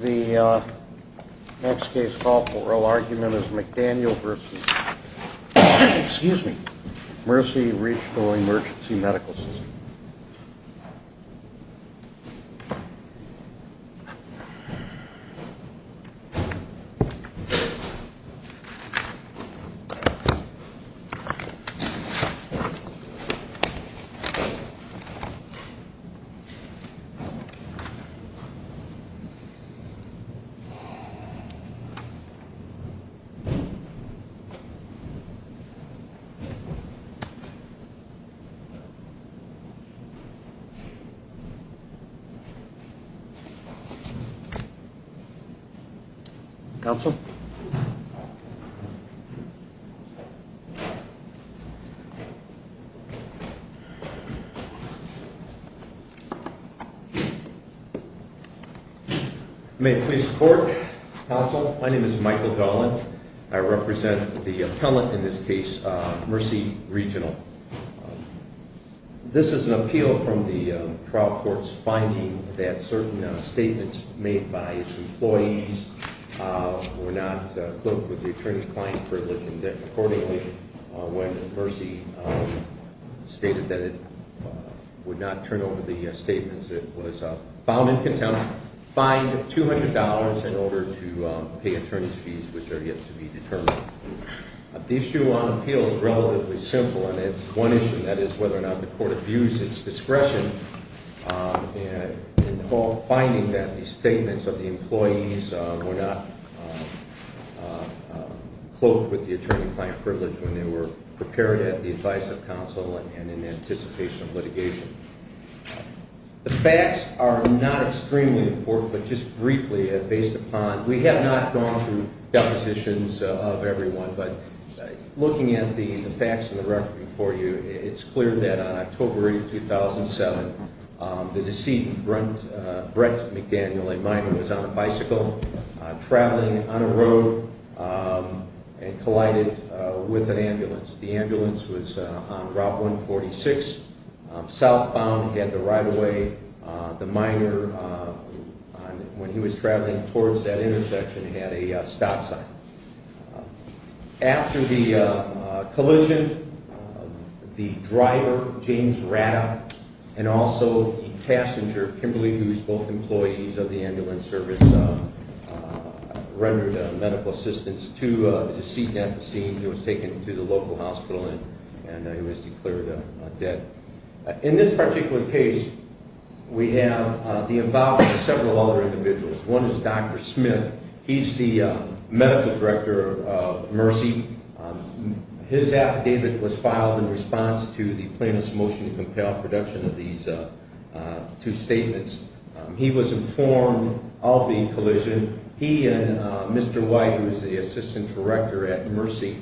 The next case call for oral argument is McDaniel v. Mercy Reg. Emergency Medical System. The next case call for oral argument is McDaniel v. Mercy Reg. Emergency Medical System. May it please the Court. Counsel, my name is Michael Dolan. I represent the appellant in this case, Mercy Regional. This is an appeal from the trial court's finding that certain statements made by its employees were not in accordance with the attorney-client privilege. They were not fined $200 in order to pay attorney's fees, which are yet to be determined. The issue on appeal is relatively simple, and it's one issue, that is, whether or not the court views its discretion in finding that the statements of the employees were not cloaked with the attorney-client privilege when they were prepared at the advice of counsel and in anticipation of litigation. The facts are not extremely important, but just briefly, based upon... We have not gone through depositions of everyone, but looking at the facts in the record before you, it's clear that on October 8, 2007, the decedent, Brett McDaniel, a minor, was on a bicycle, traveling on a road, and collided with an ambulance. The ambulance was on Route 146, southbound. He had to ride away. The minor, when he was traveling towards that intersection, had a stop sign. After the collision, the driver, James Ratta, and also the passenger, Kimberly, who is both employees of the ambulance service, rendered medical assistance to the decedent at the scene. He was taken to the local hospital, and he was declared dead. In this particular case, we have the involvement of several other individuals. One is Dr. Smith. He's the medical director of Mercy. His affidavit was filed in response to the plaintiff's motion to compel production of these two statements. He was informed of the collision. He and Mr. White, who is the assistant director at Mercy,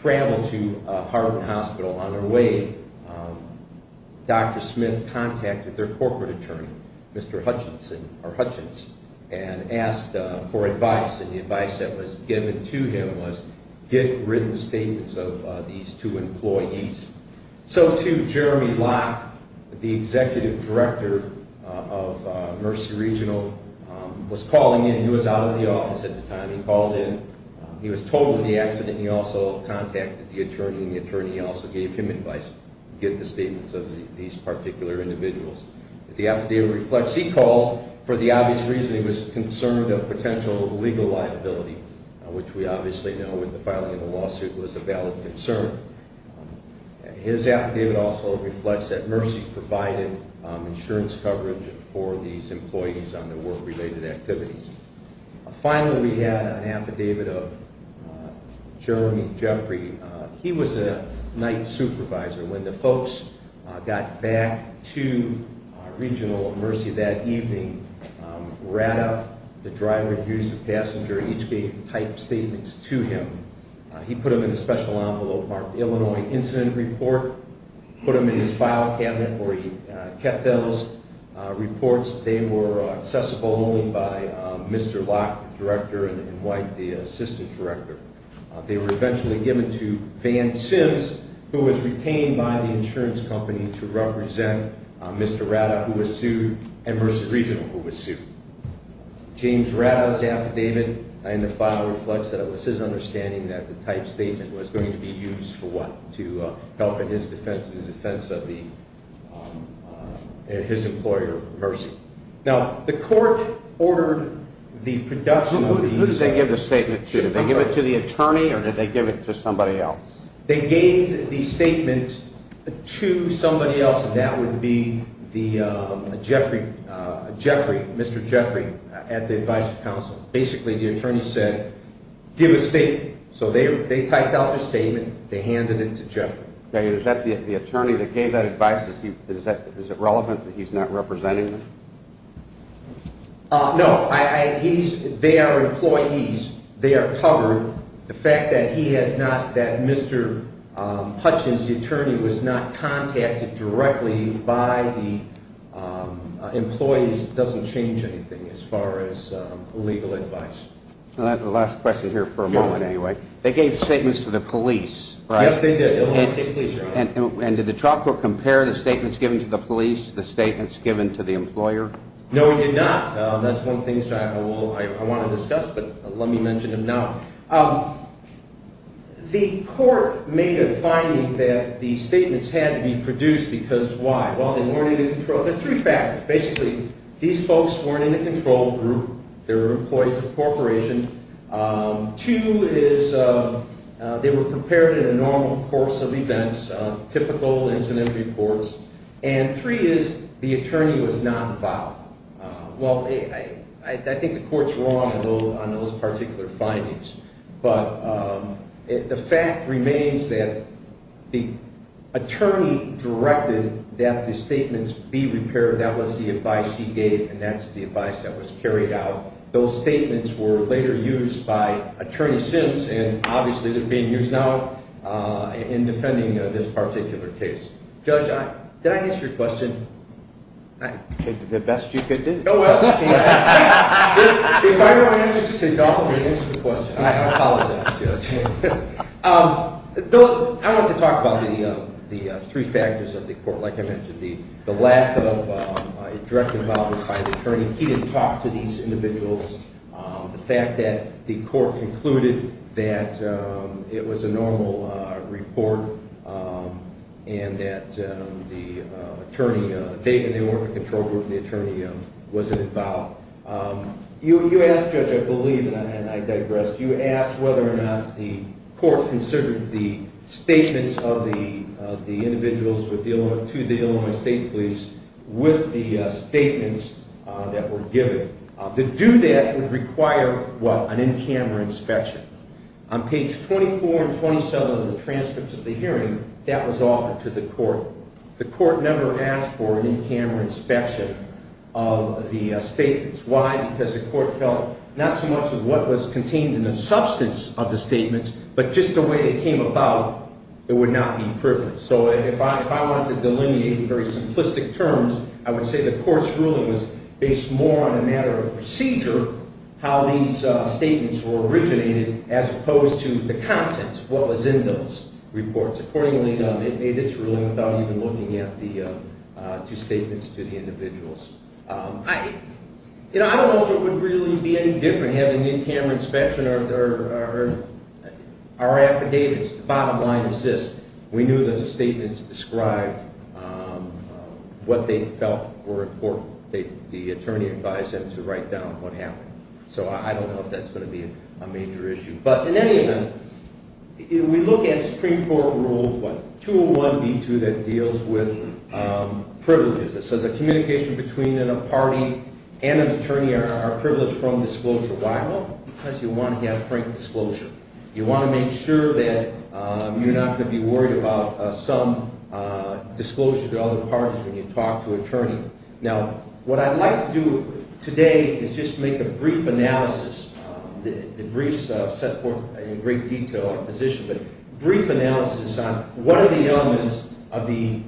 traveled to Hardin Hospital. On their way, Dr. Smith contacted their corporate attorney, Mr. Hutchinson, or Hutchins, and asked for advice. The advice that was given to him was, get written statements of these two employees. So, too, Jeremy Locke, the executive director of Mercy Regional, was calling in. He was out of the office at the time. He called in. He was told of the accident, and he also contacted the attorney, and the attorney also gave him advice, gave the statements of these particular individuals. The affidavit reflects he called for the obvious reason he was concerned of potential legal liability, which we obviously know, with the filing of the lawsuit, was a valid concern. His affidavit also reflects that Mercy provided insurance coverage for these employees on their work-related activities. Finally, we had an affidavit of Jeremy Jeffrey. He was a night supervisor. When the folks got back to Regional Mercy that evening, Rada, the driver who used the passenger, each gave type statements to him. He put them in a special envelope marked Illinois Incident Report, put them in his file cabinet where he kept those reports. They were accessible only by Mr. Locke, the director, and White, the assistant director. They were eventually given to Van Sims, who was retained by the insurance company to represent Mr. Rada, who was sued, and Mercy Regional, who was sued. James Rada's affidavit in the file reflects that it was his understanding that the type statement was going to be used for what? To help in his defense, in the defense of his employer, Mercy. Who did they give the statement to? Did they give it to the attorney, or did they give it to somebody else? They gave the statement to somebody else, and that would be Mr. Jeffrey at the advisory council. Basically, the attorney said, give a statement. So they typed out the statement, they handed it to Jeffrey. Is that the attorney that gave that advice, is it relevant that he's not representing them? No, they are employees. They are covered. The fact that Mr. Hutchins, the attorney, was not contacted directly by the employees doesn't change anything as far as legal advice. Last question here for a moment, anyway. They gave statements to the police, right? Yes, they did. And did the trial court compare the statements given to the police to the statements given to the employer? No, it did not. That's one of the things I want to discuss, but let me mention it now. The court made a finding that the statements had to be produced because why? There are three factors. Basically, these folks weren't in the control group. They were employees of the corporation. Two is they were prepared in a normal course of events, typical incident reports. And three is the attorney was not involved. Well, I think the court's wrong on those particular findings, but the fact remains that the attorney directed that the statements be repaired. That was the advice he gave, and that's the advice that was carried out. Those statements were later used by Attorney Sims, and obviously they're being used now in defending this particular case. The best you could do. If I were to answer, just say, don't answer the question. I apologize, Judge. I want to talk about the three factors of the court. Like I mentioned, the lack of direct involvement by the attorney. He didn't talk to these individuals. The fact that the court concluded that it was a normal report and that the attorney, they were in the control group and the attorney wasn't involved. You asked, Judge, I believe, and I digress. You asked whether or not the court considered the statements of the individuals to the Illinois State Police with the statements that were given. To do that would require, what, an in-camera inspection. On page 24 and 27 of the transcripts of the hearing, that was offered to the court. The court never asked for an in-camera inspection of the statements. Why? Because the court felt not so much of what was contained in the substance of the statements, but just the way it came about, it would not be privileged. So if I wanted to delineate very simplistic terms, I would say the court's ruling was based more on a matter of procedure, how these statements were originated, as opposed to the contents, what was in those reports. Accordingly, it made its ruling without even looking at the two statements to the individuals. I don't know if it would really be any different having an in-camera inspection or affidavits. The bottom line is this, we knew that the statements described what they felt were important. The attorney advised them to write down what happened. So I don't know if that's going to be a major issue. But in any event, we look at Supreme Court Rule 201B2 that deals with privileges. It says that communication between a party and an attorney are privileged from disclosure. Why? Because you want to have frank disclosure. You want to make sure that you're not going to be worried about some disclosure to other parties when you talk to an attorney. Now, what I'd like to do today is just make a brief analysis. The briefs set forth in great detail our position, but brief analysis on what are the elements of the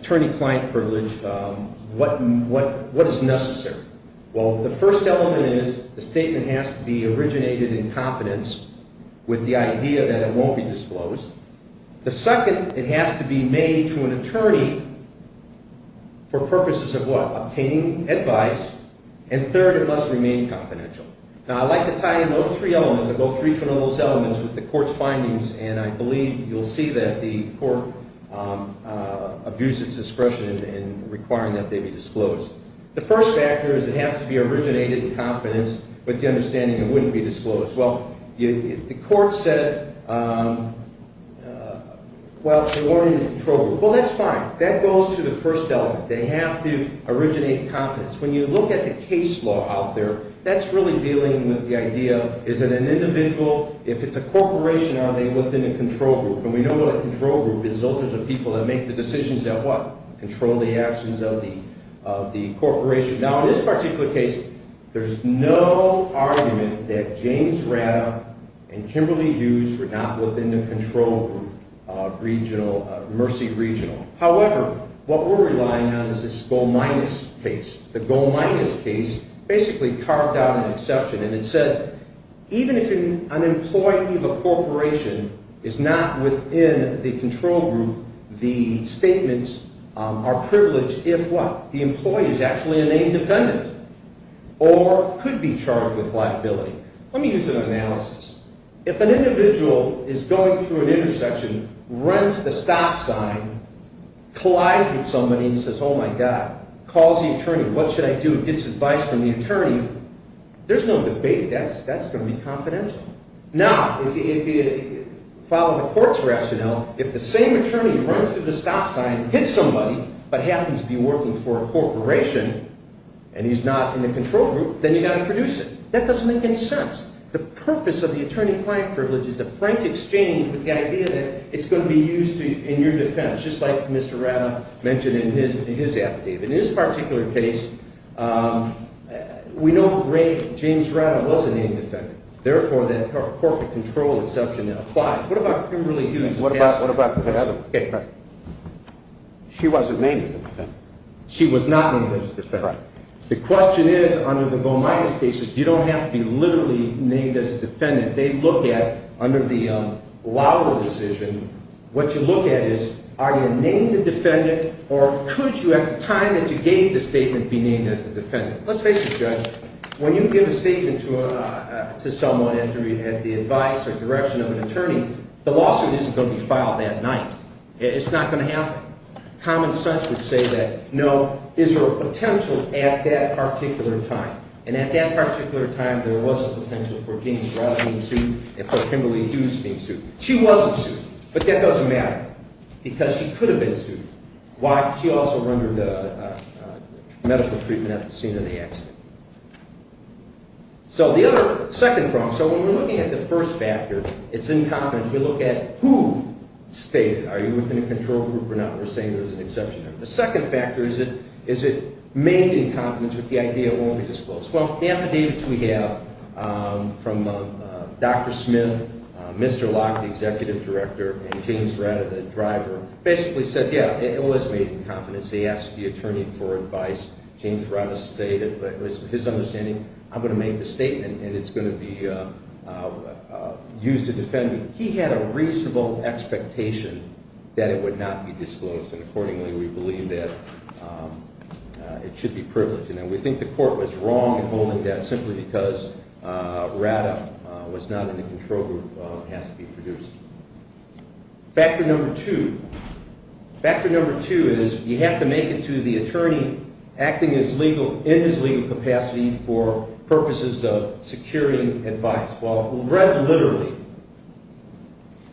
attorney-client privilege, what is necessary. Well, the first element is the statement has to be originated in confidence with the idea that it won't be disclosed. The second, it has to be made to an attorney for purposes of what? Obtaining advice. And third, it must remain confidential. Now, I'd like to tie in those three elements. I'll go through each one of those elements with the court's findings, and I believe you'll see that the court abuses discretion in requiring that they be disclosed. The first factor is it has to be originated in confidence with the understanding it wouldn't be disclosed. Well, the court said it while rewarding the control group. Well, that's fine. That goes to the first element. They have to originate in confidence. When you look at the case law out there, that's really dealing with the idea, is it an individual? If it's a corporation, are they within a control group? And we know what a control group is. Those are the people that make the decisions that what? Control the actions of the corporation. Now, in this particular case, there's no argument that James Ratta and Kimberly Hughes were not within the control group of Mercy Regional. However, what we're relying on is this goal minus case. The goal minus case basically carved out an exception, and it said, Even if an employee of a corporation is not within the control group, the statements are privileged if what? The employee is actually a named defendant or could be charged with liability. Let me use an analysis. If an individual is going through an intersection, runs the stop sign, collides with somebody and says, Oh, my God. Calls the attorney. What should I do? Gets advice from the attorney. There's no debate. That's going to be confidential. Now, if you follow the court's rationale, if the same attorney runs through the stop sign, hits somebody, but happens to be working for a corporation and he's not in the control group, then you've got to produce it. That doesn't make any sense. The purpose of the attorney-client privilege is the frank exchange with the idea that it's going to be used in your defense, just like Mr. Rata mentioned in his affidavit. In this particular case, we know James Rata was a named defendant. Therefore, that corporate control exception applies. What about Kimberly Hughes? What about the other one? She wasn't named as a defendant. She was not named as a defendant. The question is, under the goal minus cases, you don't have to be literally named as a defendant. They look at, under the Lauer decision, what you look at is, are you named a defendant, or could you, at the time that you gave the statement, be named as a defendant? Let's face it, Judge, when you give a statement to someone after you've had the advice or direction of an attorney, the lawsuit isn't going to be filed that night. It's not going to happen. Common sense would say that, no, is there a potential at that particular time? And at that particular time, there was a potential for James Rata being sued and for Kimberly Hughes being sued. She wasn't sued, but that doesn't matter because she could have been sued. Why? She also rendered medical treatment at the scene of the accident. So the other second problem, so when we're looking at the first factor, it's incompetence. We look at who stated, are you within a control group or not? We're saying there's an exception. The second factor is it may be incompetence, but the idea won't be disclosed. Well, the affidavits we have from Dr. Smith, Mr. Locke, the executive director, and James Rata, the driver, basically said, yeah, it was made incompetence. They asked the attorney for advice. James Rata stated, but it was his understanding, I'm going to make the statement, and it's going to be used to defend me. He had a reasonable expectation that it would not be disclosed, and accordingly we believe that it should be privileged. And we think the court was wrong in holding that simply because Rata was not in the control group. It has to be produced. Factor number two. Factor number two is you have to make it to the attorney acting in his legal capacity for purposes of securing advice. Well, read literally,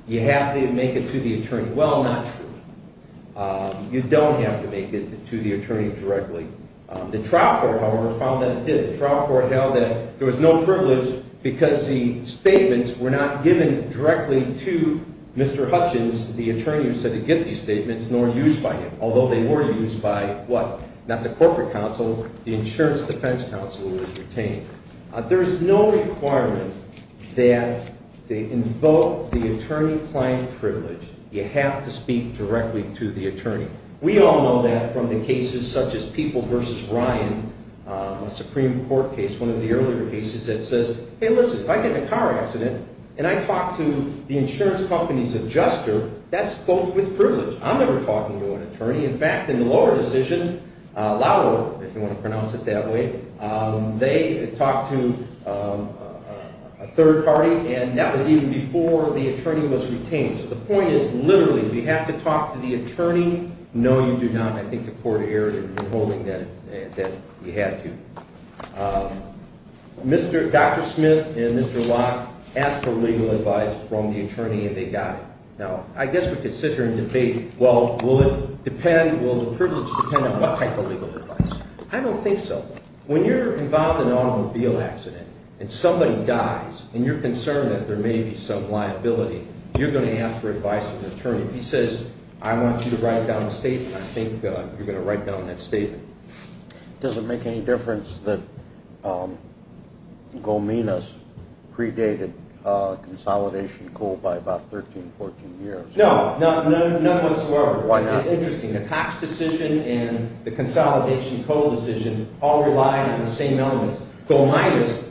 you have to make it to the attorney. Well, not truly. You don't have to make it to the attorney directly. The trial court, however, found that it did. The trial court held that there was no privilege because the statements were not given directly to Mr. Hutchins, the attorney who said he'd get these statements, nor used by him, although they were used by, what, not the corporate counsel, the insurance defense counsel who was retained. There is no requirement that they invoke the attorney-client privilege. You have to speak directly to the attorney. We all know that from the cases such as People v. Ryan, a Supreme Court case, one of the earlier cases that says, hey, listen, if I get in a car accident and I talk to the insurance company's adjuster, that's both with privilege. I'm never talking to an attorney. In fact, in the lower decision, Lauer, if you want to pronounce it that way, they talked to a third party, and that was even before the attorney was retained. So the point is, literally, we have to talk to the attorney. No, you do not. I think the court erred in holding that you had to. Dr. Smith and Mr. Locke asked for legal advice from the attorney, and they got it. Now, I guess we could sit here and debate, well, will it depend, will the privilege depend on what type of legal advice? I don't think so. When you're involved in an automobile accident and somebody dies and you're concerned that there may be some liability, you're going to ask for advice from the attorney. If he says, I want you to write down a statement, I think you're going to write down that statement. Does it make any difference that Golminas predated consolidation coal by about 13, 14 years? No, not once in a while. Why not? It's interesting. The Cox decision and the consolidation coal decision all relied on the same elements. Golminas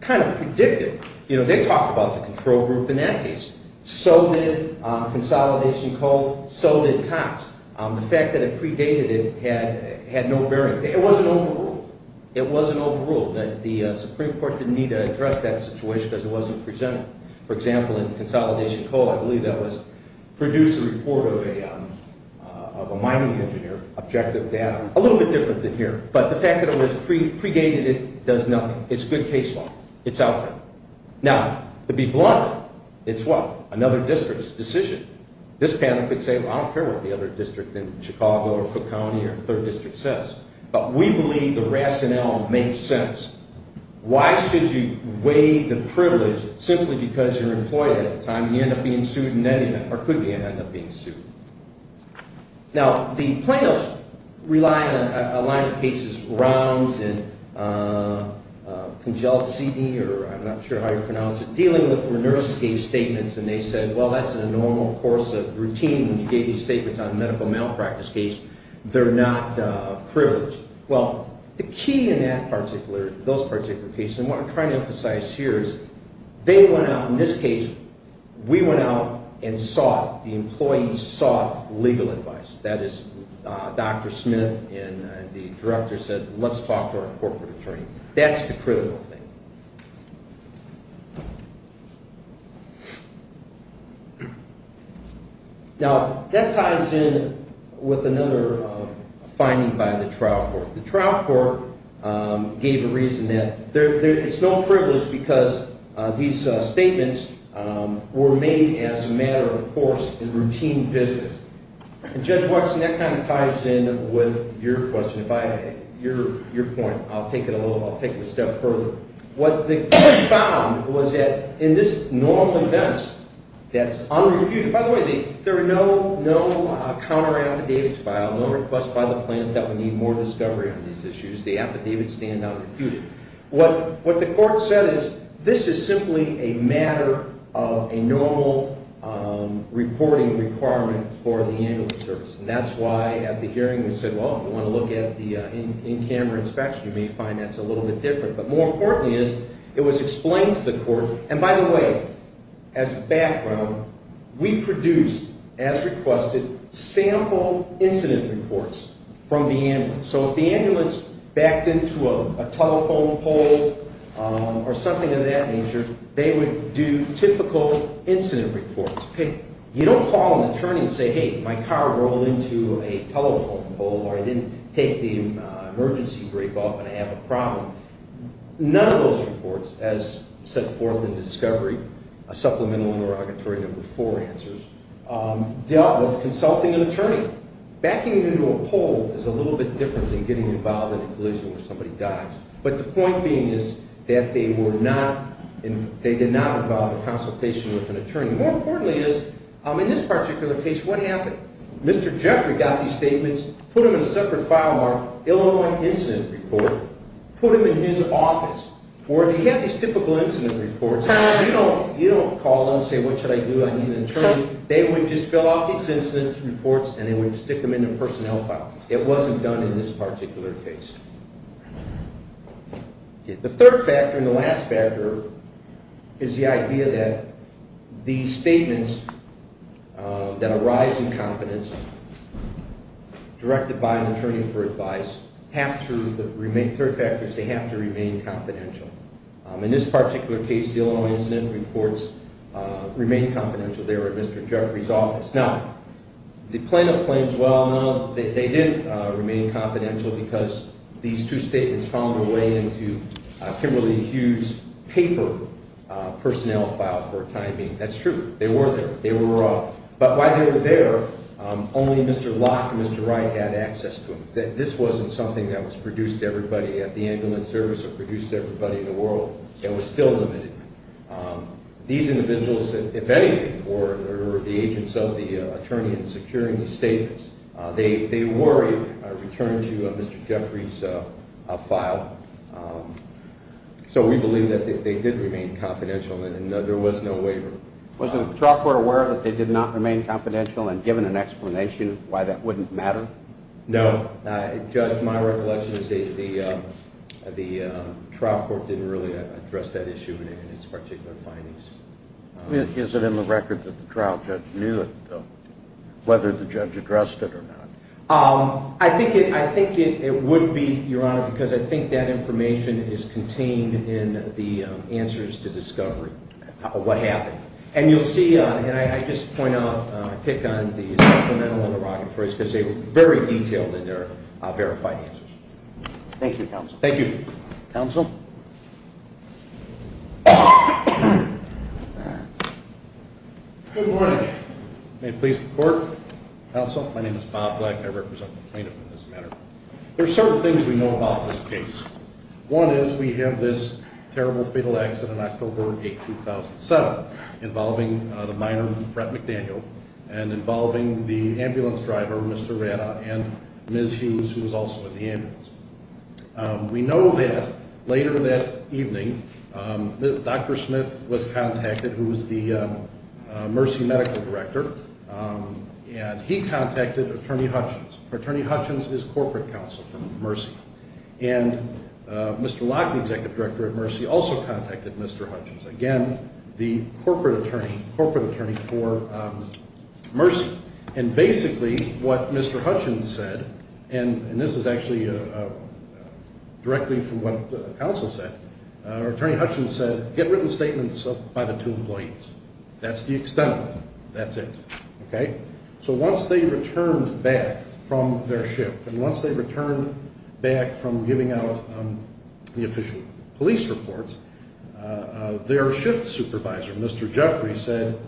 kind of predicted. They talked about the control group in that case. So did consolidation coal. So did Cox. The fact that it predated it had no bearing. It wasn't overruled. It wasn't overruled. The Supreme Court didn't need to address that situation because it wasn't presented. For example, in consolidation coal, I believe that was produced a report of a mining engineer. Objective data, a little bit different than here. But the fact that it was predated does nothing. It's good case law. It's out there. Now, to be blunt, it's what? Another district's decision. This panel could say, well, I don't care what the other district in Chicago or Cook County or third district says, but we believe the rationale makes sense. Why should you weigh the privilege simply because you're employed at a time you end up being sued in any event, or could end up being sued? Now, the plaintiffs rely on a line of cases, rounds and congealed seating, or I'm not sure how you pronounce it, dealing with where nurses gave statements, and they said, well, that's a normal course of routine when you gave these statements on a medical malpractice case. They're not privileged. Well, the key in that particular, those particular cases, and what I'm trying to emphasize here is they went out, in this case, we went out and sought, the employees sought legal advice. That is, Dr. Smith and the director said, let's talk to our corporate attorney. That's the critical thing. Now, that ties in with another finding by the trial court. The trial court gave a reason that it's no privilege because these statements were made as a matter of course in routine business. And, Judge Watson, that kind of ties in with your question. If I, your point, I'll take it a little, I'll take it a step further. What the court found was that in this normal event that's unrefuted, by the way, there are no counter affidavits filed, no request by the plaintiff that would need more discovery on these issues. The affidavits stand unrefuted. What the court said is this is simply a matter of a normal reporting requirement for the annual service. And that's why at the hearing we said, well, if you want to look at the in-camera inspection, you may find that's a little bit different. But more importantly is it was explained to the court, and by the way, as background, we produced, as requested, sample incident reports from the ambulance. So if the ambulance backed into a telephone pole or something of that nature, they would do typical incident reports. You don't call an attorney and say, hey, my car rolled into a telephone pole or I didn't take the emergency brake off and I have a problem. None of those reports, as set forth in discovery, supplemental and derogatory number four answers, dealt with consulting an attorney. Backing it into a pole is a little bit different than getting involved in a collision where somebody dies. But the point being is that they did not involve a consultation with an attorney. More importantly is, in this particular case, what happened? Mr. Jeffrey got these statements, put them in a separate file mark, Illinois incident report, put them in his office. Or if he had these typical incident reports, you don't call them and say, what should I do, I need an attorney. They would just fill out these incident reports and they would stick them in a personnel file. It wasn't done in this particular case. The third factor and the last factor is the idea that these statements that arise in confidence, directed by an attorney for advice, third factor is they have to remain confidential. In this particular case, the Illinois incident reports remained confidential. They were in Mr. Jeffrey's office. Now, the plaintiff claims, well, no, they didn't remain confidential because these two statements found their way into Kimberly Hughes' paper personnel file for timing. That's true. They were there. But while they were there, only Mr. Locke and Mr. Wright had access to them. This wasn't something that was produced to everybody at the Ambulance Service or produced to everybody in the world. It was still limited. These individuals, if anything, were the agents of the attorney in securing the statements. They were returned to Mr. Jeffrey's file. So we believe that they did remain confidential and there was no waiver. Was the trial court aware that they did not remain confidential and given an explanation why that wouldn't matter? No. Judge, my recollection is the trial court didn't really address that issue in its particular findings. Is it in the record that the trial judge knew it, though, whether the judge addressed it or not? I think it would be, Your Honor, because I think that information is contained in the answers to discovery, what happened. And you'll see, and I just point out, I pick on the supplemental interrogatories because they were very detailed in their verified answers. Thank you, Counsel. Thank you. Counsel? Good morning. May it please the Court. Counsel, my name is Bob Black. I represent the plaintiff in this matter. There are certain things we know about this case. One is we have this terrible fatal accident, October 8, 2007, involving the minor, Brett McDaniel, and involving the ambulance driver, Mr. Ratta, and Ms. Hughes, who was also in the ambulance. We know that later that evening, Dr. Smith was contacted, who was the Mercy Medical Director, and he contacted Attorney Hutchins. Attorney Hutchins is corporate counsel for Mercy. And Mr. Locke, the Executive Director at Mercy, also contacted Mr. Hutchins, again, the corporate attorney for Mercy. And basically what Mr. Hutchins said, and this is actually directly from what counsel said, Attorney Hutchins said, get written statements by the two employees. That's the extent of it. That's it. So once they returned back from their shift, and once they returned back from giving out the official police reports, their shift supervisor, Mr. Jeffrey, said,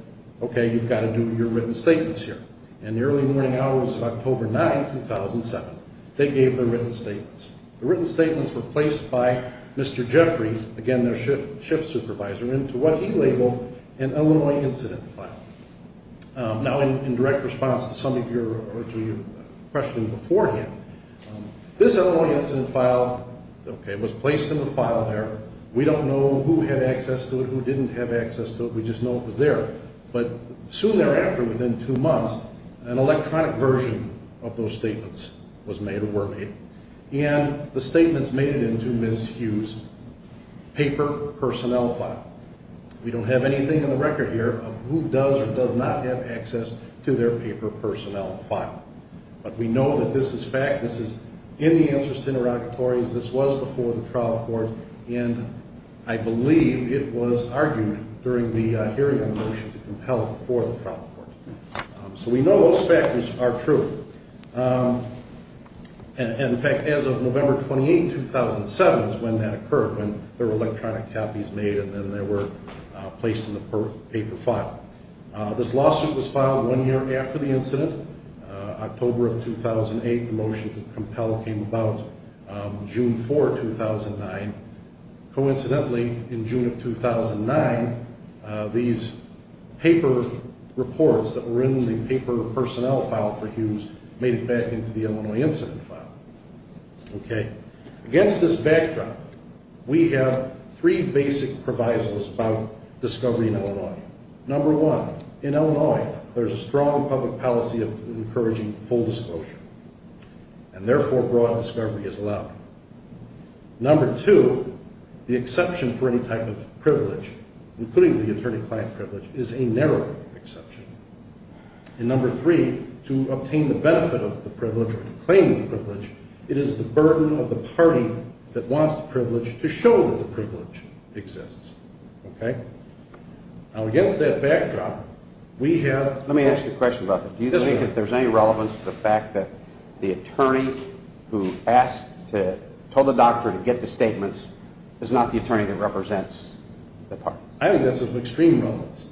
okay, you've got to do your written statements here. In the early morning hours of October 9, 2007, they gave their written statements. The written statements were placed by Mr. Jeffrey, again, their shift supervisor, into what he labeled an Illinois incident file. Now, in direct response to some of your questions beforehand, this Illinois incident file was placed in the file there. We don't know who had access to it, who didn't have access to it. We just know it was there. But soon thereafter, within two months, an electronic version of those statements was made or were made. And the statements made it into Ms. Hughes' paper personnel file. We don't have anything in the record here of who does or does not have access to their paper personnel file. But we know that this is fact. This is in the answers to interrogatories. This was before the trial court. And I believe it was argued during the hearing of the motion to compel it before the trial court. So we know those factors are true. And, in fact, as of November 28, 2007 is when that occurred, when there were electronic copies made and then they were placed in the paper file. This lawsuit was filed one year after the incident, October of 2008. The motion to compel came about June 4, 2009. Coincidentally, in June of 2009, these paper reports that were in the paper personnel file for Hughes made it back into the Illinois incident file. Okay. Against this backdrop, we have three basic provisos about discovery in Illinois. Number one, in Illinois, there's a strong public policy of encouraging full disclosure. And, therefore, broad discovery is allowed. Number two, the exception for any type of privilege, including the attorney-client privilege, is a narrow exception. And, number three, to obtain the benefit of the privilege or to claim the privilege, it is the burden of the party that wants the privilege to show that the privilege exists. Okay? Now, against that backdrop, we have- Let me ask you a question about that. Do you think that there's any relevance to the fact that the attorney who told the doctor to get the statements is not the attorney that represents the parties? I think that's of extreme relevance.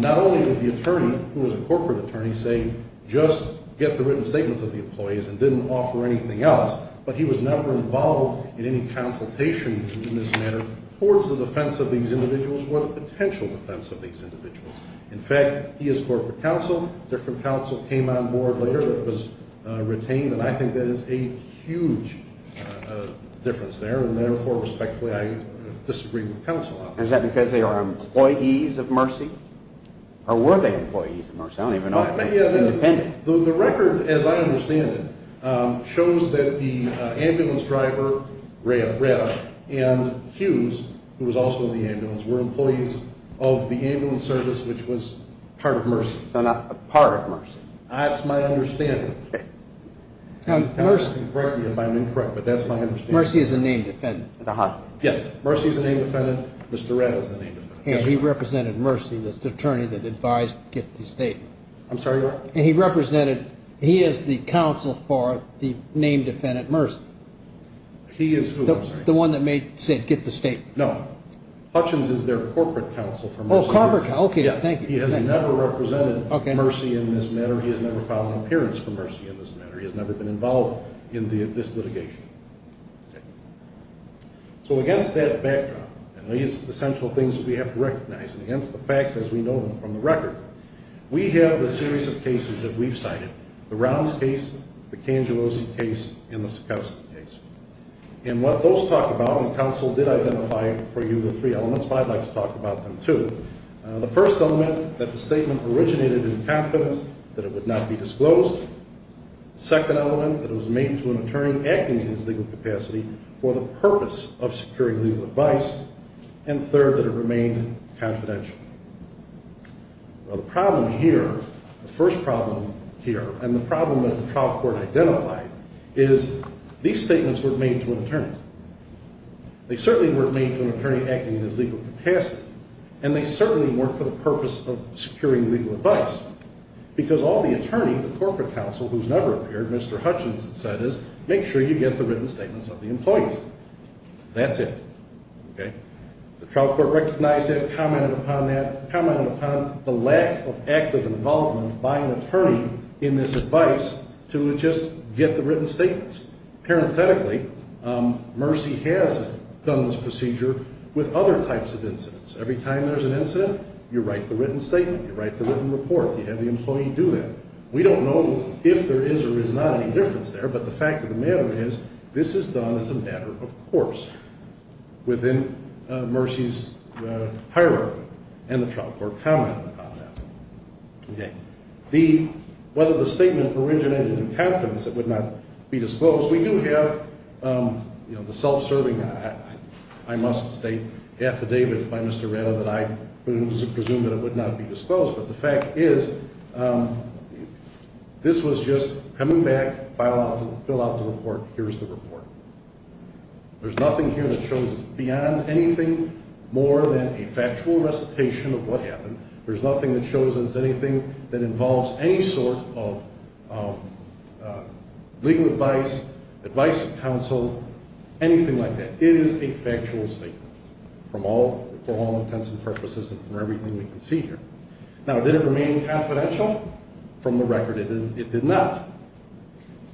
Not only did the attorney, who was a corporate attorney, say, just get the written statements of the employees and didn't offer anything else, but he was never involved in any consultation in this manner towards the defense of these individuals or the potential defense of these individuals. In fact, he is corporate counsel. Different counsel came on board later that was retained, and I think that is a huge difference there. And, therefore, respectfully, I disagree with counsel on that. Is that because they are employees of Mercy? Or were they employees of Mercy? I don't even know if they were independent. The record, as I understand it, shows that the ambulance driver, Red, and Hughes, who was also in the ambulance, were employees of the ambulance service, which was part of Mercy. Part of Mercy. That's my understanding. I'm incorrect, but that's my understanding. Mercy is a named defendant. Yes. Mercy is a named defendant. Mr. Red is a named defendant. And he represented Mercy, the attorney that advised to get the statement. I'm sorry, what? And he represented, he is the counsel for the named defendant, Mercy. He is who? The one that said get the statement. No. Hutchins is their corporate counsel for Mercy. Oh, corporate counsel. Okay, thank you. He has never represented Mercy in this manner. He has never filed an appearance for Mercy in this manner. He has never been involved in this litigation. So against that backdrop, and these essential things that we have to recognize, and against the facts as we know them from the record, we have the series of cases that we've cited, the Rounds case, the Cangellosi case, and the Sakowski case. And what those talk about, and counsel did identify for you the three elements, but I'd like to talk about them too. The first element, that the statement originated in confidence that it would not be disclosed. The second element, that it was made to an attorney acting in his legal capacity for the purpose of securing legal advice. And third, that it remained confidential. Well, the problem here, the first problem here, and the problem that the trial court identified, is these statements weren't made to an attorney. They certainly weren't made to an attorney acting in his legal capacity. And they certainly weren't for the purpose of securing legal advice. Because all the attorney, the corporate counsel, who's never appeared, Mr. Hutchins, said is make sure you get the written statements of the employees. That's it. Okay? The trial court recognized that, commented upon that, commented upon the lack of active involvement by an attorney in this advice to just get the written statements. Parenthetically, Mercy has done this procedure with other types of incidents. Every time there's an incident, you write the written statement, you write the written report, you have the employee do that. We don't know if there is or is not any difference there, but the fact of the matter is, this is done as a matter of course. Within Mercy's hierarchy. And the trial court commented upon that. Okay. The, whether the statement originated in confidence, it would not be disclosed. We do have, you know, the self-serving, I must state, affidavit by Mr. Retta that I presumed that it would not be disclosed. But the fact is, this was just coming back, file out, fill out the report, here's the report. There's nothing here that shows it's beyond anything more than a factual recitation of what happened. There's nothing that shows it's anything that involves any sort of legal advice, advice of counsel, anything like that. It is a factual statement. From all, for all intents and purposes and for everything we can see here. Now, did it remain confidential? From the record, it did not.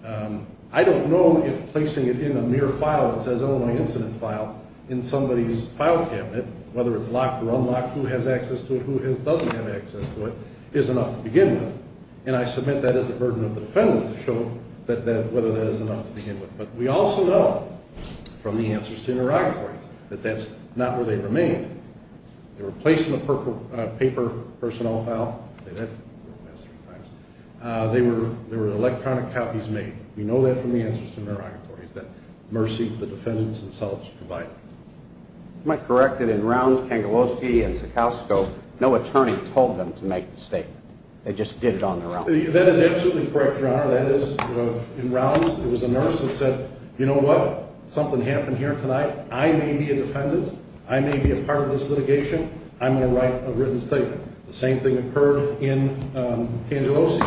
I don't know if placing it in a mere file that says Illinois incident file in somebody's file cabinet, whether it's locked or unlocked, who has access to it, who doesn't have access to it, is enough to begin with. And I submit that is the burden of the defendants to show whether that is enough to begin with. But we also know from the answers to the interrogatory that that's not where they remained. They were placed in a paper personnel file. They were electronic copies made. We know that from the answers to the interrogatory. Is that mercy the defendants themselves provide? Am I correct that in Rounds, Pangolosi, and Sekowsko, no attorney told them to make the statement? They just did it on their own? That is absolutely correct, Your Honor. That is, in Rounds, it was a nurse that said, you know what? Something happened here tonight. I may be a defendant. I may be a part of this litigation. I'm going to write a written statement. The same thing occurred in Pangolosi.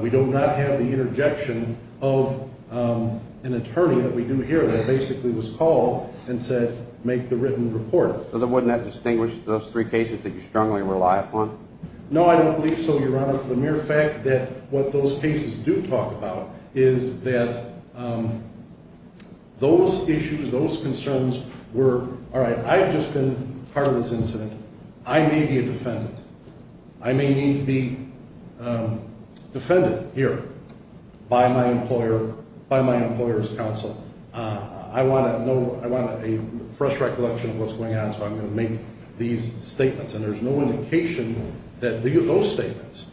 We do not have the interjection of an attorney that we do here that basically was called and said, make the written report. So then wouldn't that distinguish those three cases that you strongly rely upon? No, I don't believe so, Your Honor, for the mere fact that what those cases do talk about is that those issues, those concerns were, all right, I've just been part of this incident. I may be a defendant. I may need to be defended here by my employer, by my employer's counsel. I want a fresh recollection of what's going on, so I'm going to make these statements. And there's no indication that those statements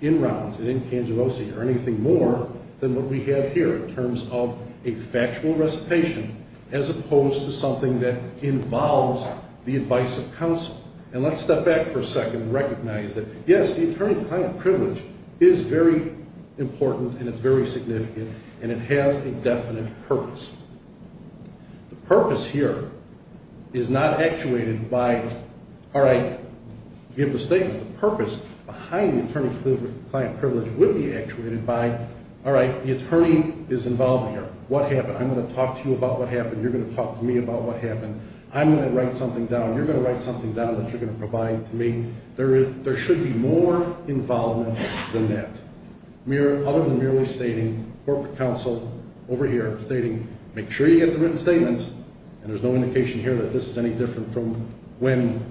in Rounds and in Pangolosi are anything more than what we have here in terms of a factual recitation as opposed to something that involves the advice of counsel. And let's step back for a second and recognize that, yes, the attorney-client privilege is very important and it's very significant, and it has a definite purpose. The purpose here is not actuated by, all right, give the statement. The purpose behind the attorney-client privilege would be actuated by, all right, the attorney is involved here. What happened? I'm going to talk to you about what happened. You're going to talk to me about what happened. I'm going to write something down. You're going to write something down that you're going to provide to me. There should be more involvement than that. Other than merely stating, corporate counsel over here stating, make sure you get the written statements, and there's no indication here that this is any different from when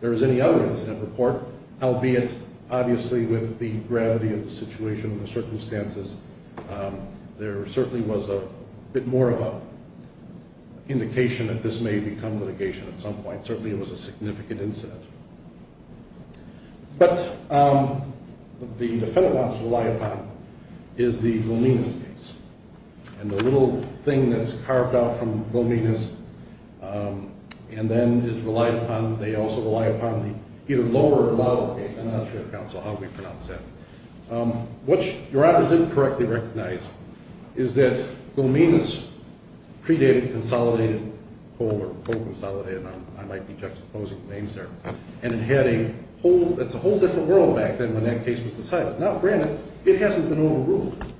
there was any other incident report, albeit obviously with the gravity of the situation and the circumstances, there certainly was a bit more of an indication that this may become litigation at some point. Certainly it was a significant incident. But the defendant wants to rely upon is the Boninas case, and the little thing that's carved out from Boninas and then is relied upon, they also rely upon the either lower or lower case. I'm not sure, counsel, how do we pronounce that? What your office didn't correctly recognize is that Boninas predated consolidated coal or coal consolidated. I might be juxtaposing names there. And it had a whole, it's a whole different world back then when that case was decided. Now, granted, it hasn't been overruled.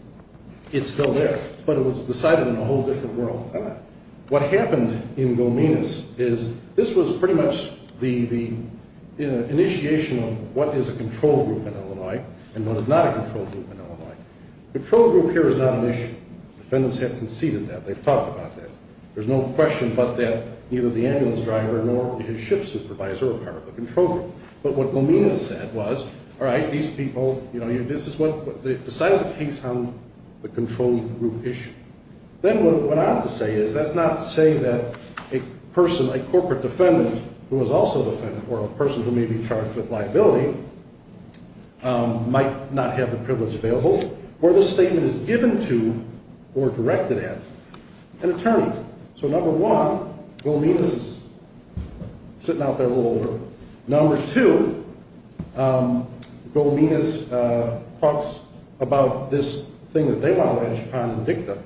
It still is. But it was decided in a whole different world. What happened in Boninas is this was pretty much the initiation of what is a control group in Illinois and what is not a control group in Illinois. Control group here is not an issue. Defendants have conceded that. They've talked about that. There's no question but that neither the ambulance driver nor his shift supervisor were part of the control group. But what Boninas said was, all right, these people, you know, this is what, they decided the case on the control group issue. Then what I have to say is that's not to say that a person, a corporate defendant who was also a defendant or a person who may be charged with liability might not have the privilege available where this statement is given to or directed at an attorney. So number one, Boninas is sitting out there a little older. Number two, Boninas talks about this thing that they want to wedge upon and dig them.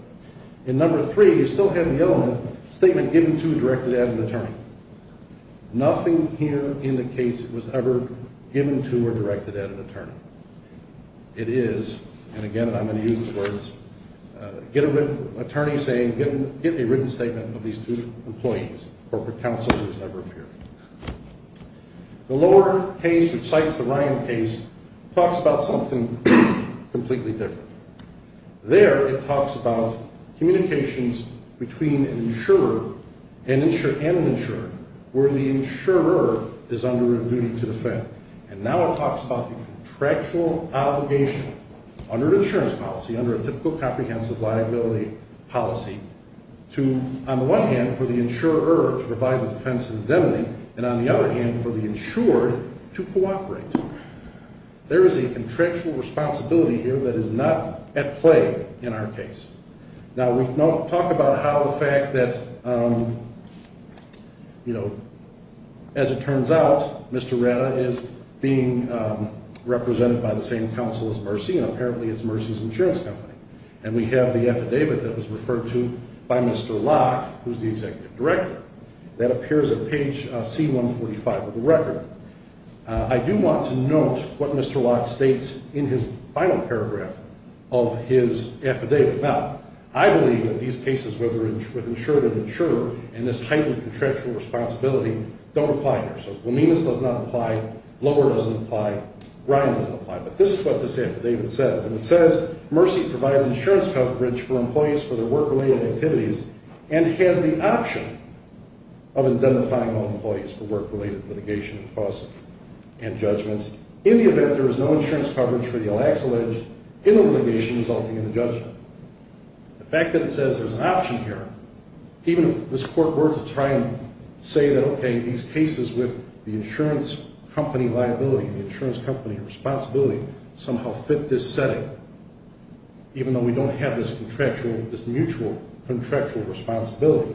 And number three, you still have the element, statement given to or directed at an attorney. Nothing here indicates it was ever given to or directed at an attorney. It is, and again I'm going to use these words, get a written attorney saying, get a written statement of these two employees. Corporate counsel has never appeared. The lower case which cites the Ryan case talks about something completely different. There it talks about communications between an insurer and an insurer where the insurer is under a duty to defend. And now it talks about the contractual obligation under an insurance policy, under a typical comprehensive liability policy to, on the one hand, for the insurer to provide the defense indemnity, and on the other hand for the insured to cooperate. There is a contractual responsibility here that is not at play in our case. Now we talk about how the fact that, you know, as it turns out, Mr. Ratta is being represented by the same counsel as Mercy, and apparently it's Mercy's insurance company. And we have the affidavit that was referred to by Mr. Locke, who's the executive director. That appears at page C145 of the record. I do want to note what Mr. Locke states in his final paragraph of his affidavit. Now, I believe that these cases with insured and insurer and this heightened contractual responsibility don't apply here. Well, Mimas does not apply. Lover doesn't apply. Ryan doesn't apply. But this is what this affidavit says, and it says, Mercy provides insurance coverage for employees for their work-related activities and has the option of identifying all employees for work-related litigation and costs and judgments in the event there is no insurance coverage for the ill-ex-alleged in the litigation resulting in the judgment. The fact that it says there's an option here, even if this court were to try and say that, okay, these cases with the insurance company liability and the insurance company responsibility somehow fit this setting, even though we don't have this mutual contractual responsibility,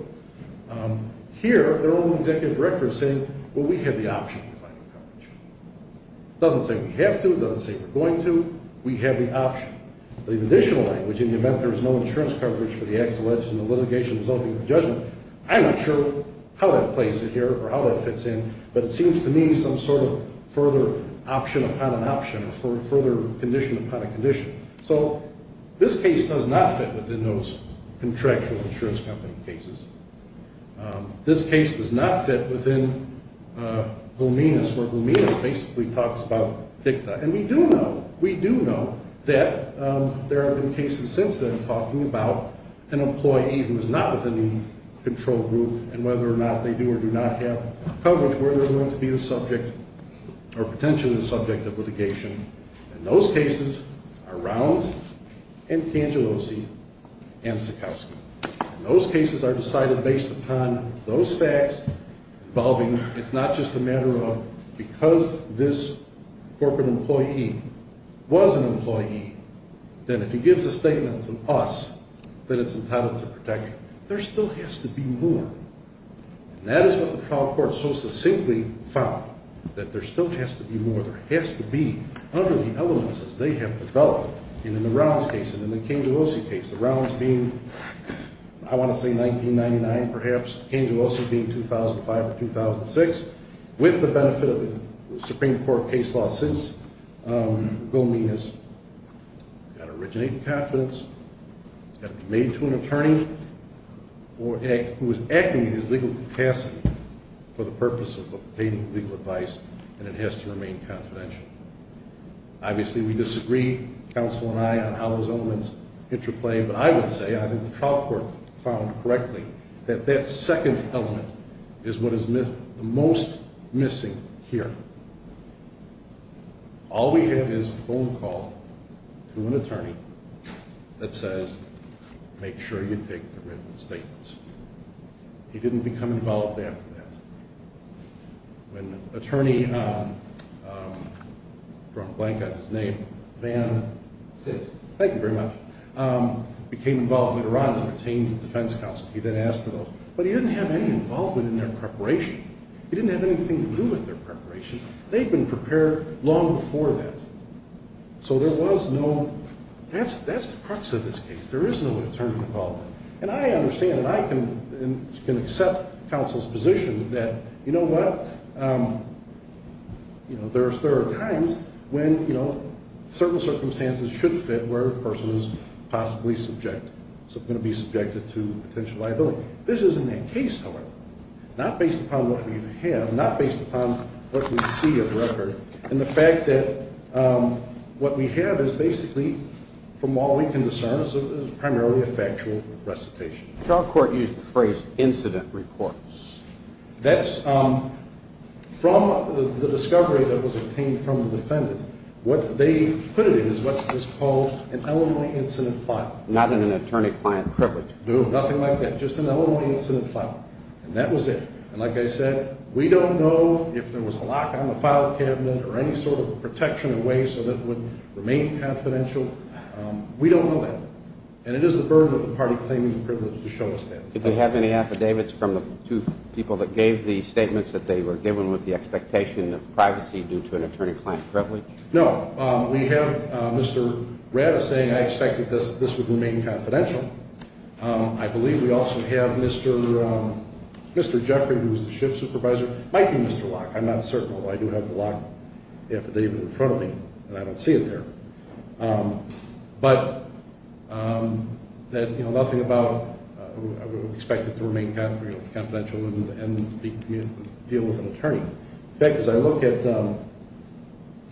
here their own executive director is saying, well, we have the option. It doesn't say we have to. It doesn't say we're going to. We have the option. The additional language, in the event there is no insurance coverage for the ill-ex-alleged in the litigation resulting in the judgment, I'm not sure how that plays it here or how that fits in, but it seems to me some sort of further option upon an option or further condition upon a condition. So this case does not fit within those contractual insurance company cases. This case does not fit within Gominis, where Gominis basically talks about dicta. And we do know, we do know that there have been cases since then talking about an employee who is not within the control group and whether or not they do or do not have coverage, where they're going to be the subject or potentially the subject of litigation. And those cases are Rounds and Cangellosi and Sikowsky. And those cases are decided based upon those facts involving, it's not just a matter of because this corporate employee was an employee, then if he gives a statement to us that it's entitled to protection, there still has to be more. And that is what the trial court so succinctly found, that there still has to be more. There has to be other elements as they have developed. And in the Rounds case and in the Cangellosi case, the Rounds being, I want to say 1999 perhaps, Cangellosi being 2005 or 2006, with the benefit of the Supreme Court case law since, Gominis has got to originate in confidence, it's got to be made to an attorney who is acting in his legal capacity for the purpose of obtaining legal advice, and it has to remain confidential. Obviously we disagree, counsel and I, on how those elements interplay, but I would say, I think the trial court found correctly, that that second element is what is most missing here. All we have is a phone call to an attorney that says, make sure you take the written statements. He didn't become involved after that. When attorney, I've drawn a blank on his name, Van, thank you very much, became involved with Iran and retained the defense counsel. He then asked for those. But he didn't have any involvement in their preparation. He didn't have anything to do with their preparation. They'd been prepared long before that. So there was no, that's the crux of this case. There is no attorney involvement. And I understand, and I can accept counsel's position that, you know what, there are times when certain circumstances should fit where a person is possibly subjected, is going to be subjected to potential liability. This isn't the case, however. Not based upon what we have, not based upon what we see of the record, and the fact that what we have is basically, from all we can discern, is primarily a factual recitation. The trial court used the phrase incident report. That's from the discovery that was obtained from the defendant. What they put it in is what is called an elementary incident file. Not in an attorney-client privilege. No, nothing like that, just an elementary incident file. And that was it. And like I said, we don't know if there was a lock on the file cabinet or any sort of protection in ways so that it would remain confidential. We don't know that. And it is the burden of the party claiming the privilege to show us that. Did they have any affidavits from the two people that gave the statements that they were given with the expectation of privacy due to an attorney-client privilege? No. We have Mr. Rada saying, I expect that this would remain confidential. I believe we also have Mr. Jeffrey, who is the shift supervisor. It might be Mr. Locke. I'm not certain, although I do have the Locke affidavit in front of me, and I don't see it there. But nothing about expected to remain confidential and deal with an attorney. In fact, as I look at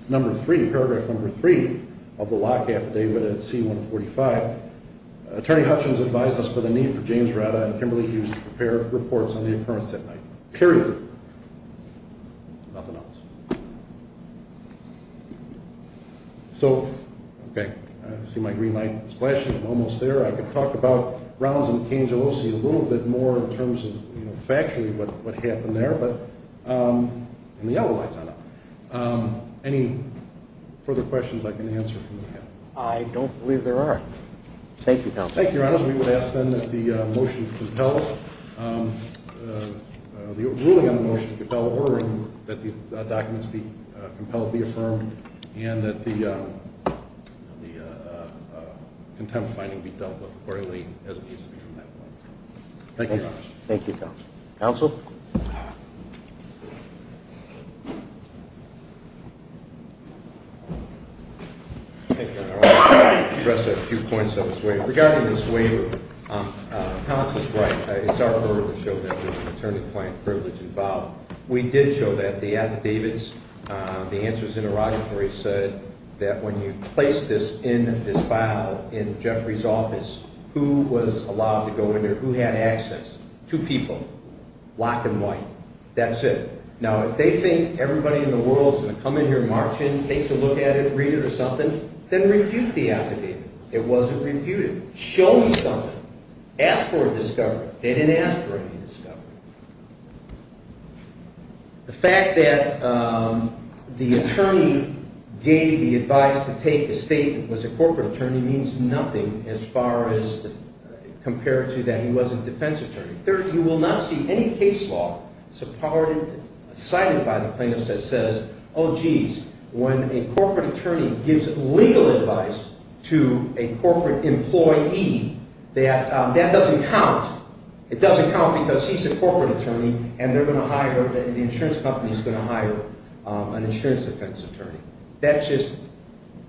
number three, paragraph number three of the Locke affidavit at C-145, Attorney Hutchins advised us for the need for James Rada and Kimberly Hughes to prepare reports on the occurrence that night, period. Nothing else. So, okay, I see my green light is flashing. I'm almost there. I could talk about Browns and Cangellosi a little bit more in terms of, you know, factually what happened there. And the yellow light's on now. Any further questions I can answer from the panel? I don't believe there are. Thank you, Counsel. Thank you, Your Honors. We would ask then that the motion be compelled, the ruling on the motion be compelled, that the documents be compelled to be affirmed, and that the contempt finding be dealt with quarterly as it needs to be on that one. Thank you, Your Honors. Thank you, Counsel. Counsel? Thank you, Your Honor. I want to address a few points of this waiver. Regarding this waiver, Counsel is right. It's our burden to show that there's an attorney-client privilege involved. We did show that. The affidavits, the answers in the rocketry said that when you place this in this file in Jeffrey's office, who was allowed to go in there? Who had access? Two people, black and white. That's it. Now, if they think everybody in the world is going to come in here and march in, take a look at it, read it or something, then refute the affidavit. It wasn't refuted. Show me something. Ask for a discovery. They didn't ask for any discovery. The fact that the attorney gave the advice to take a statement, was a corporate attorney, means nothing as far as compared to that he wasn't a defense attorney. Third, you will not see any case law cited by the plaintiff that says, When a corporate attorney gives legal advice to a corporate employee, that doesn't count. It doesn't count because he's a corporate attorney and the insurance company is going to hire an insurance defense attorney. That just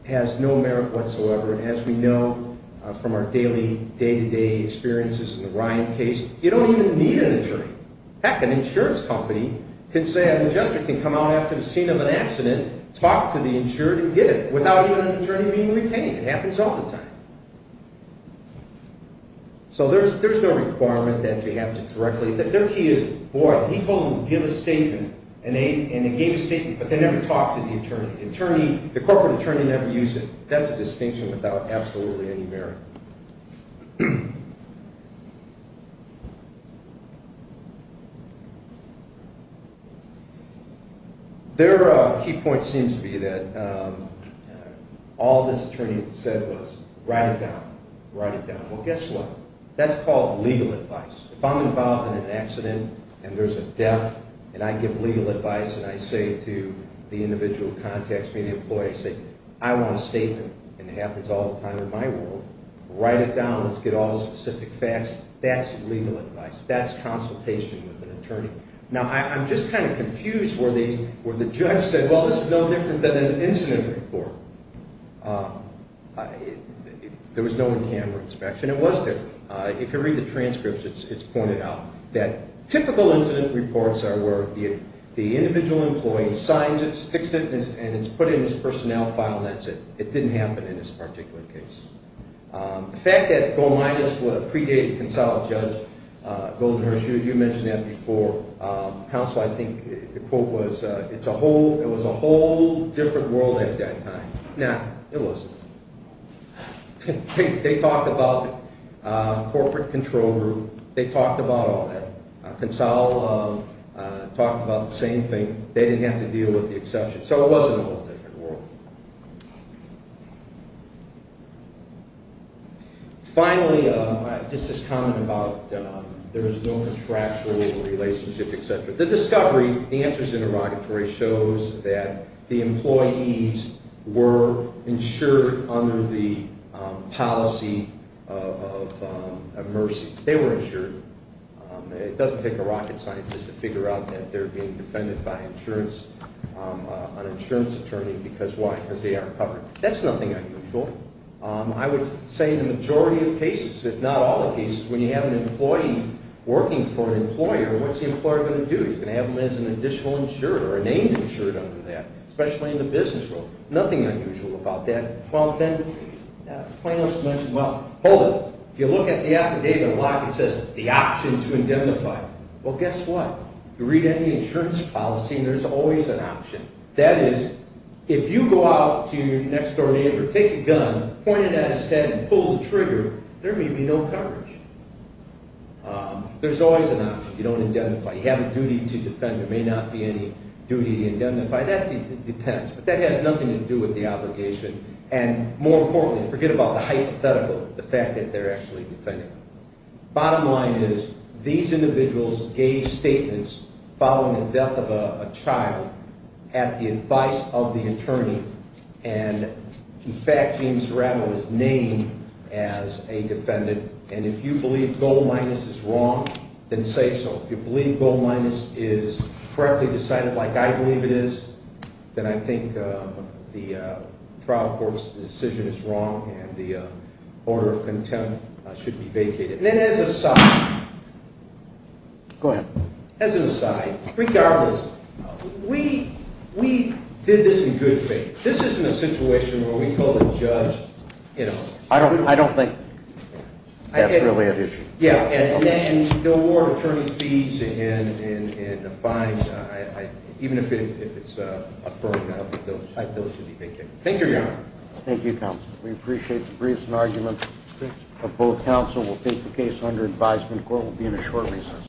has no merit whatsoever. As we know from our daily, day-to-day experiences in the Ryan case, you don't even need an attorney. Heck, an insurance company can say an ingestor can come out after the scene of an accident, talk to the insured and get it without even an attorney being retained. It happens all the time. So, there's no requirement that you have to directly. Their key is, boy, he told them to give a statement and they gave a statement, but they never talked to the attorney. The corporate attorney never used it. That's a distinction without absolutely any merit. Their key point seems to be that all this attorney said was, write it down, write it down. Well, guess what? That's called legal advice. If I'm involved in an accident and there's a death and I give legal advice and I say to the individual contacts, me, the employee, I say, I want a statement and it happens all the time in my world. Write it down. Let's get all the specific facts. That's legal advice. That's consultation with an attorney. Now, I'm just kind of confused where the judge said, well, this is no different than an incident report. There was no in-camera inspection. It was there. If you read the transcripts, it's pointed out that typical incident reports are where the individual employee signs it, sticks it, and it's put in his personnel file and that's it. It didn't happen in this particular case. The fact that Goldenhurst was a predated Consolidate judge, Goldenhurst, you mentioned that before, counsel, I think the quote was, it was a whole different world at that time. No, it wasn't. They talked about corporate control group. They talked about all that. Consolidate talked about the same thing. They didn't have to deal with the exception. So it was a whole different world. Finally, this is common about there is no contractual relationship, et cetera. The discovery, the answers in the derogatory shows that the employees were insured under the policy of mercy. They were insured. It doesn't take a rocket scientist to figure out that they're being defended by an insurance attorney. Because why? Because they aren't covered. That's nothing unusual. I would say the majority of cases, if not all of these, when you have an employee working for an employer, what's the employer going to do? He's going to have him as an additional insured or a named insured under that, especially in the business world. Nothing unusual about that. Well, then, Plano's mentioned, well, hold it. If you look at the affidavit a lot, it says the option to indemnify. Well, guess what? If you read any insurance policy, there's always an option. That is, if you go out to your next-door neighbor, take a gun, point it at his head, and pull the trigger, there may be no coverage. There's always an option. You don't indemnify. You have a duty to defend. There may not be any duty to indemnify. That depends. But that has nothing to do with the obligation. And more importantly, forget about the hypothetical, the fact that they're actually defended. Bottom line is these individuals gave statements following the death of a child at the advice of the attorney. And, in fact, James Rattle was named as a defendant. And if you believe goal minus is wrong, then say so. If you believe goal minus is correctly decided, like I believe it is, then I think the trial court's decision is wrong and the order of contempt should be vacated. And then as an aside, regardless, we did this in good faith. This isn't a situation where we call the judge, you know. I don't think that's really an issue. The award of attorney's fees and fines, even if it's affirmed, I don't think those should be vacated. Thank you, Your Honor. Thank you, Counsel. We appreciate the briefs and arguments of both counsel. We'll take the case under advisement. The court will be in a short recess.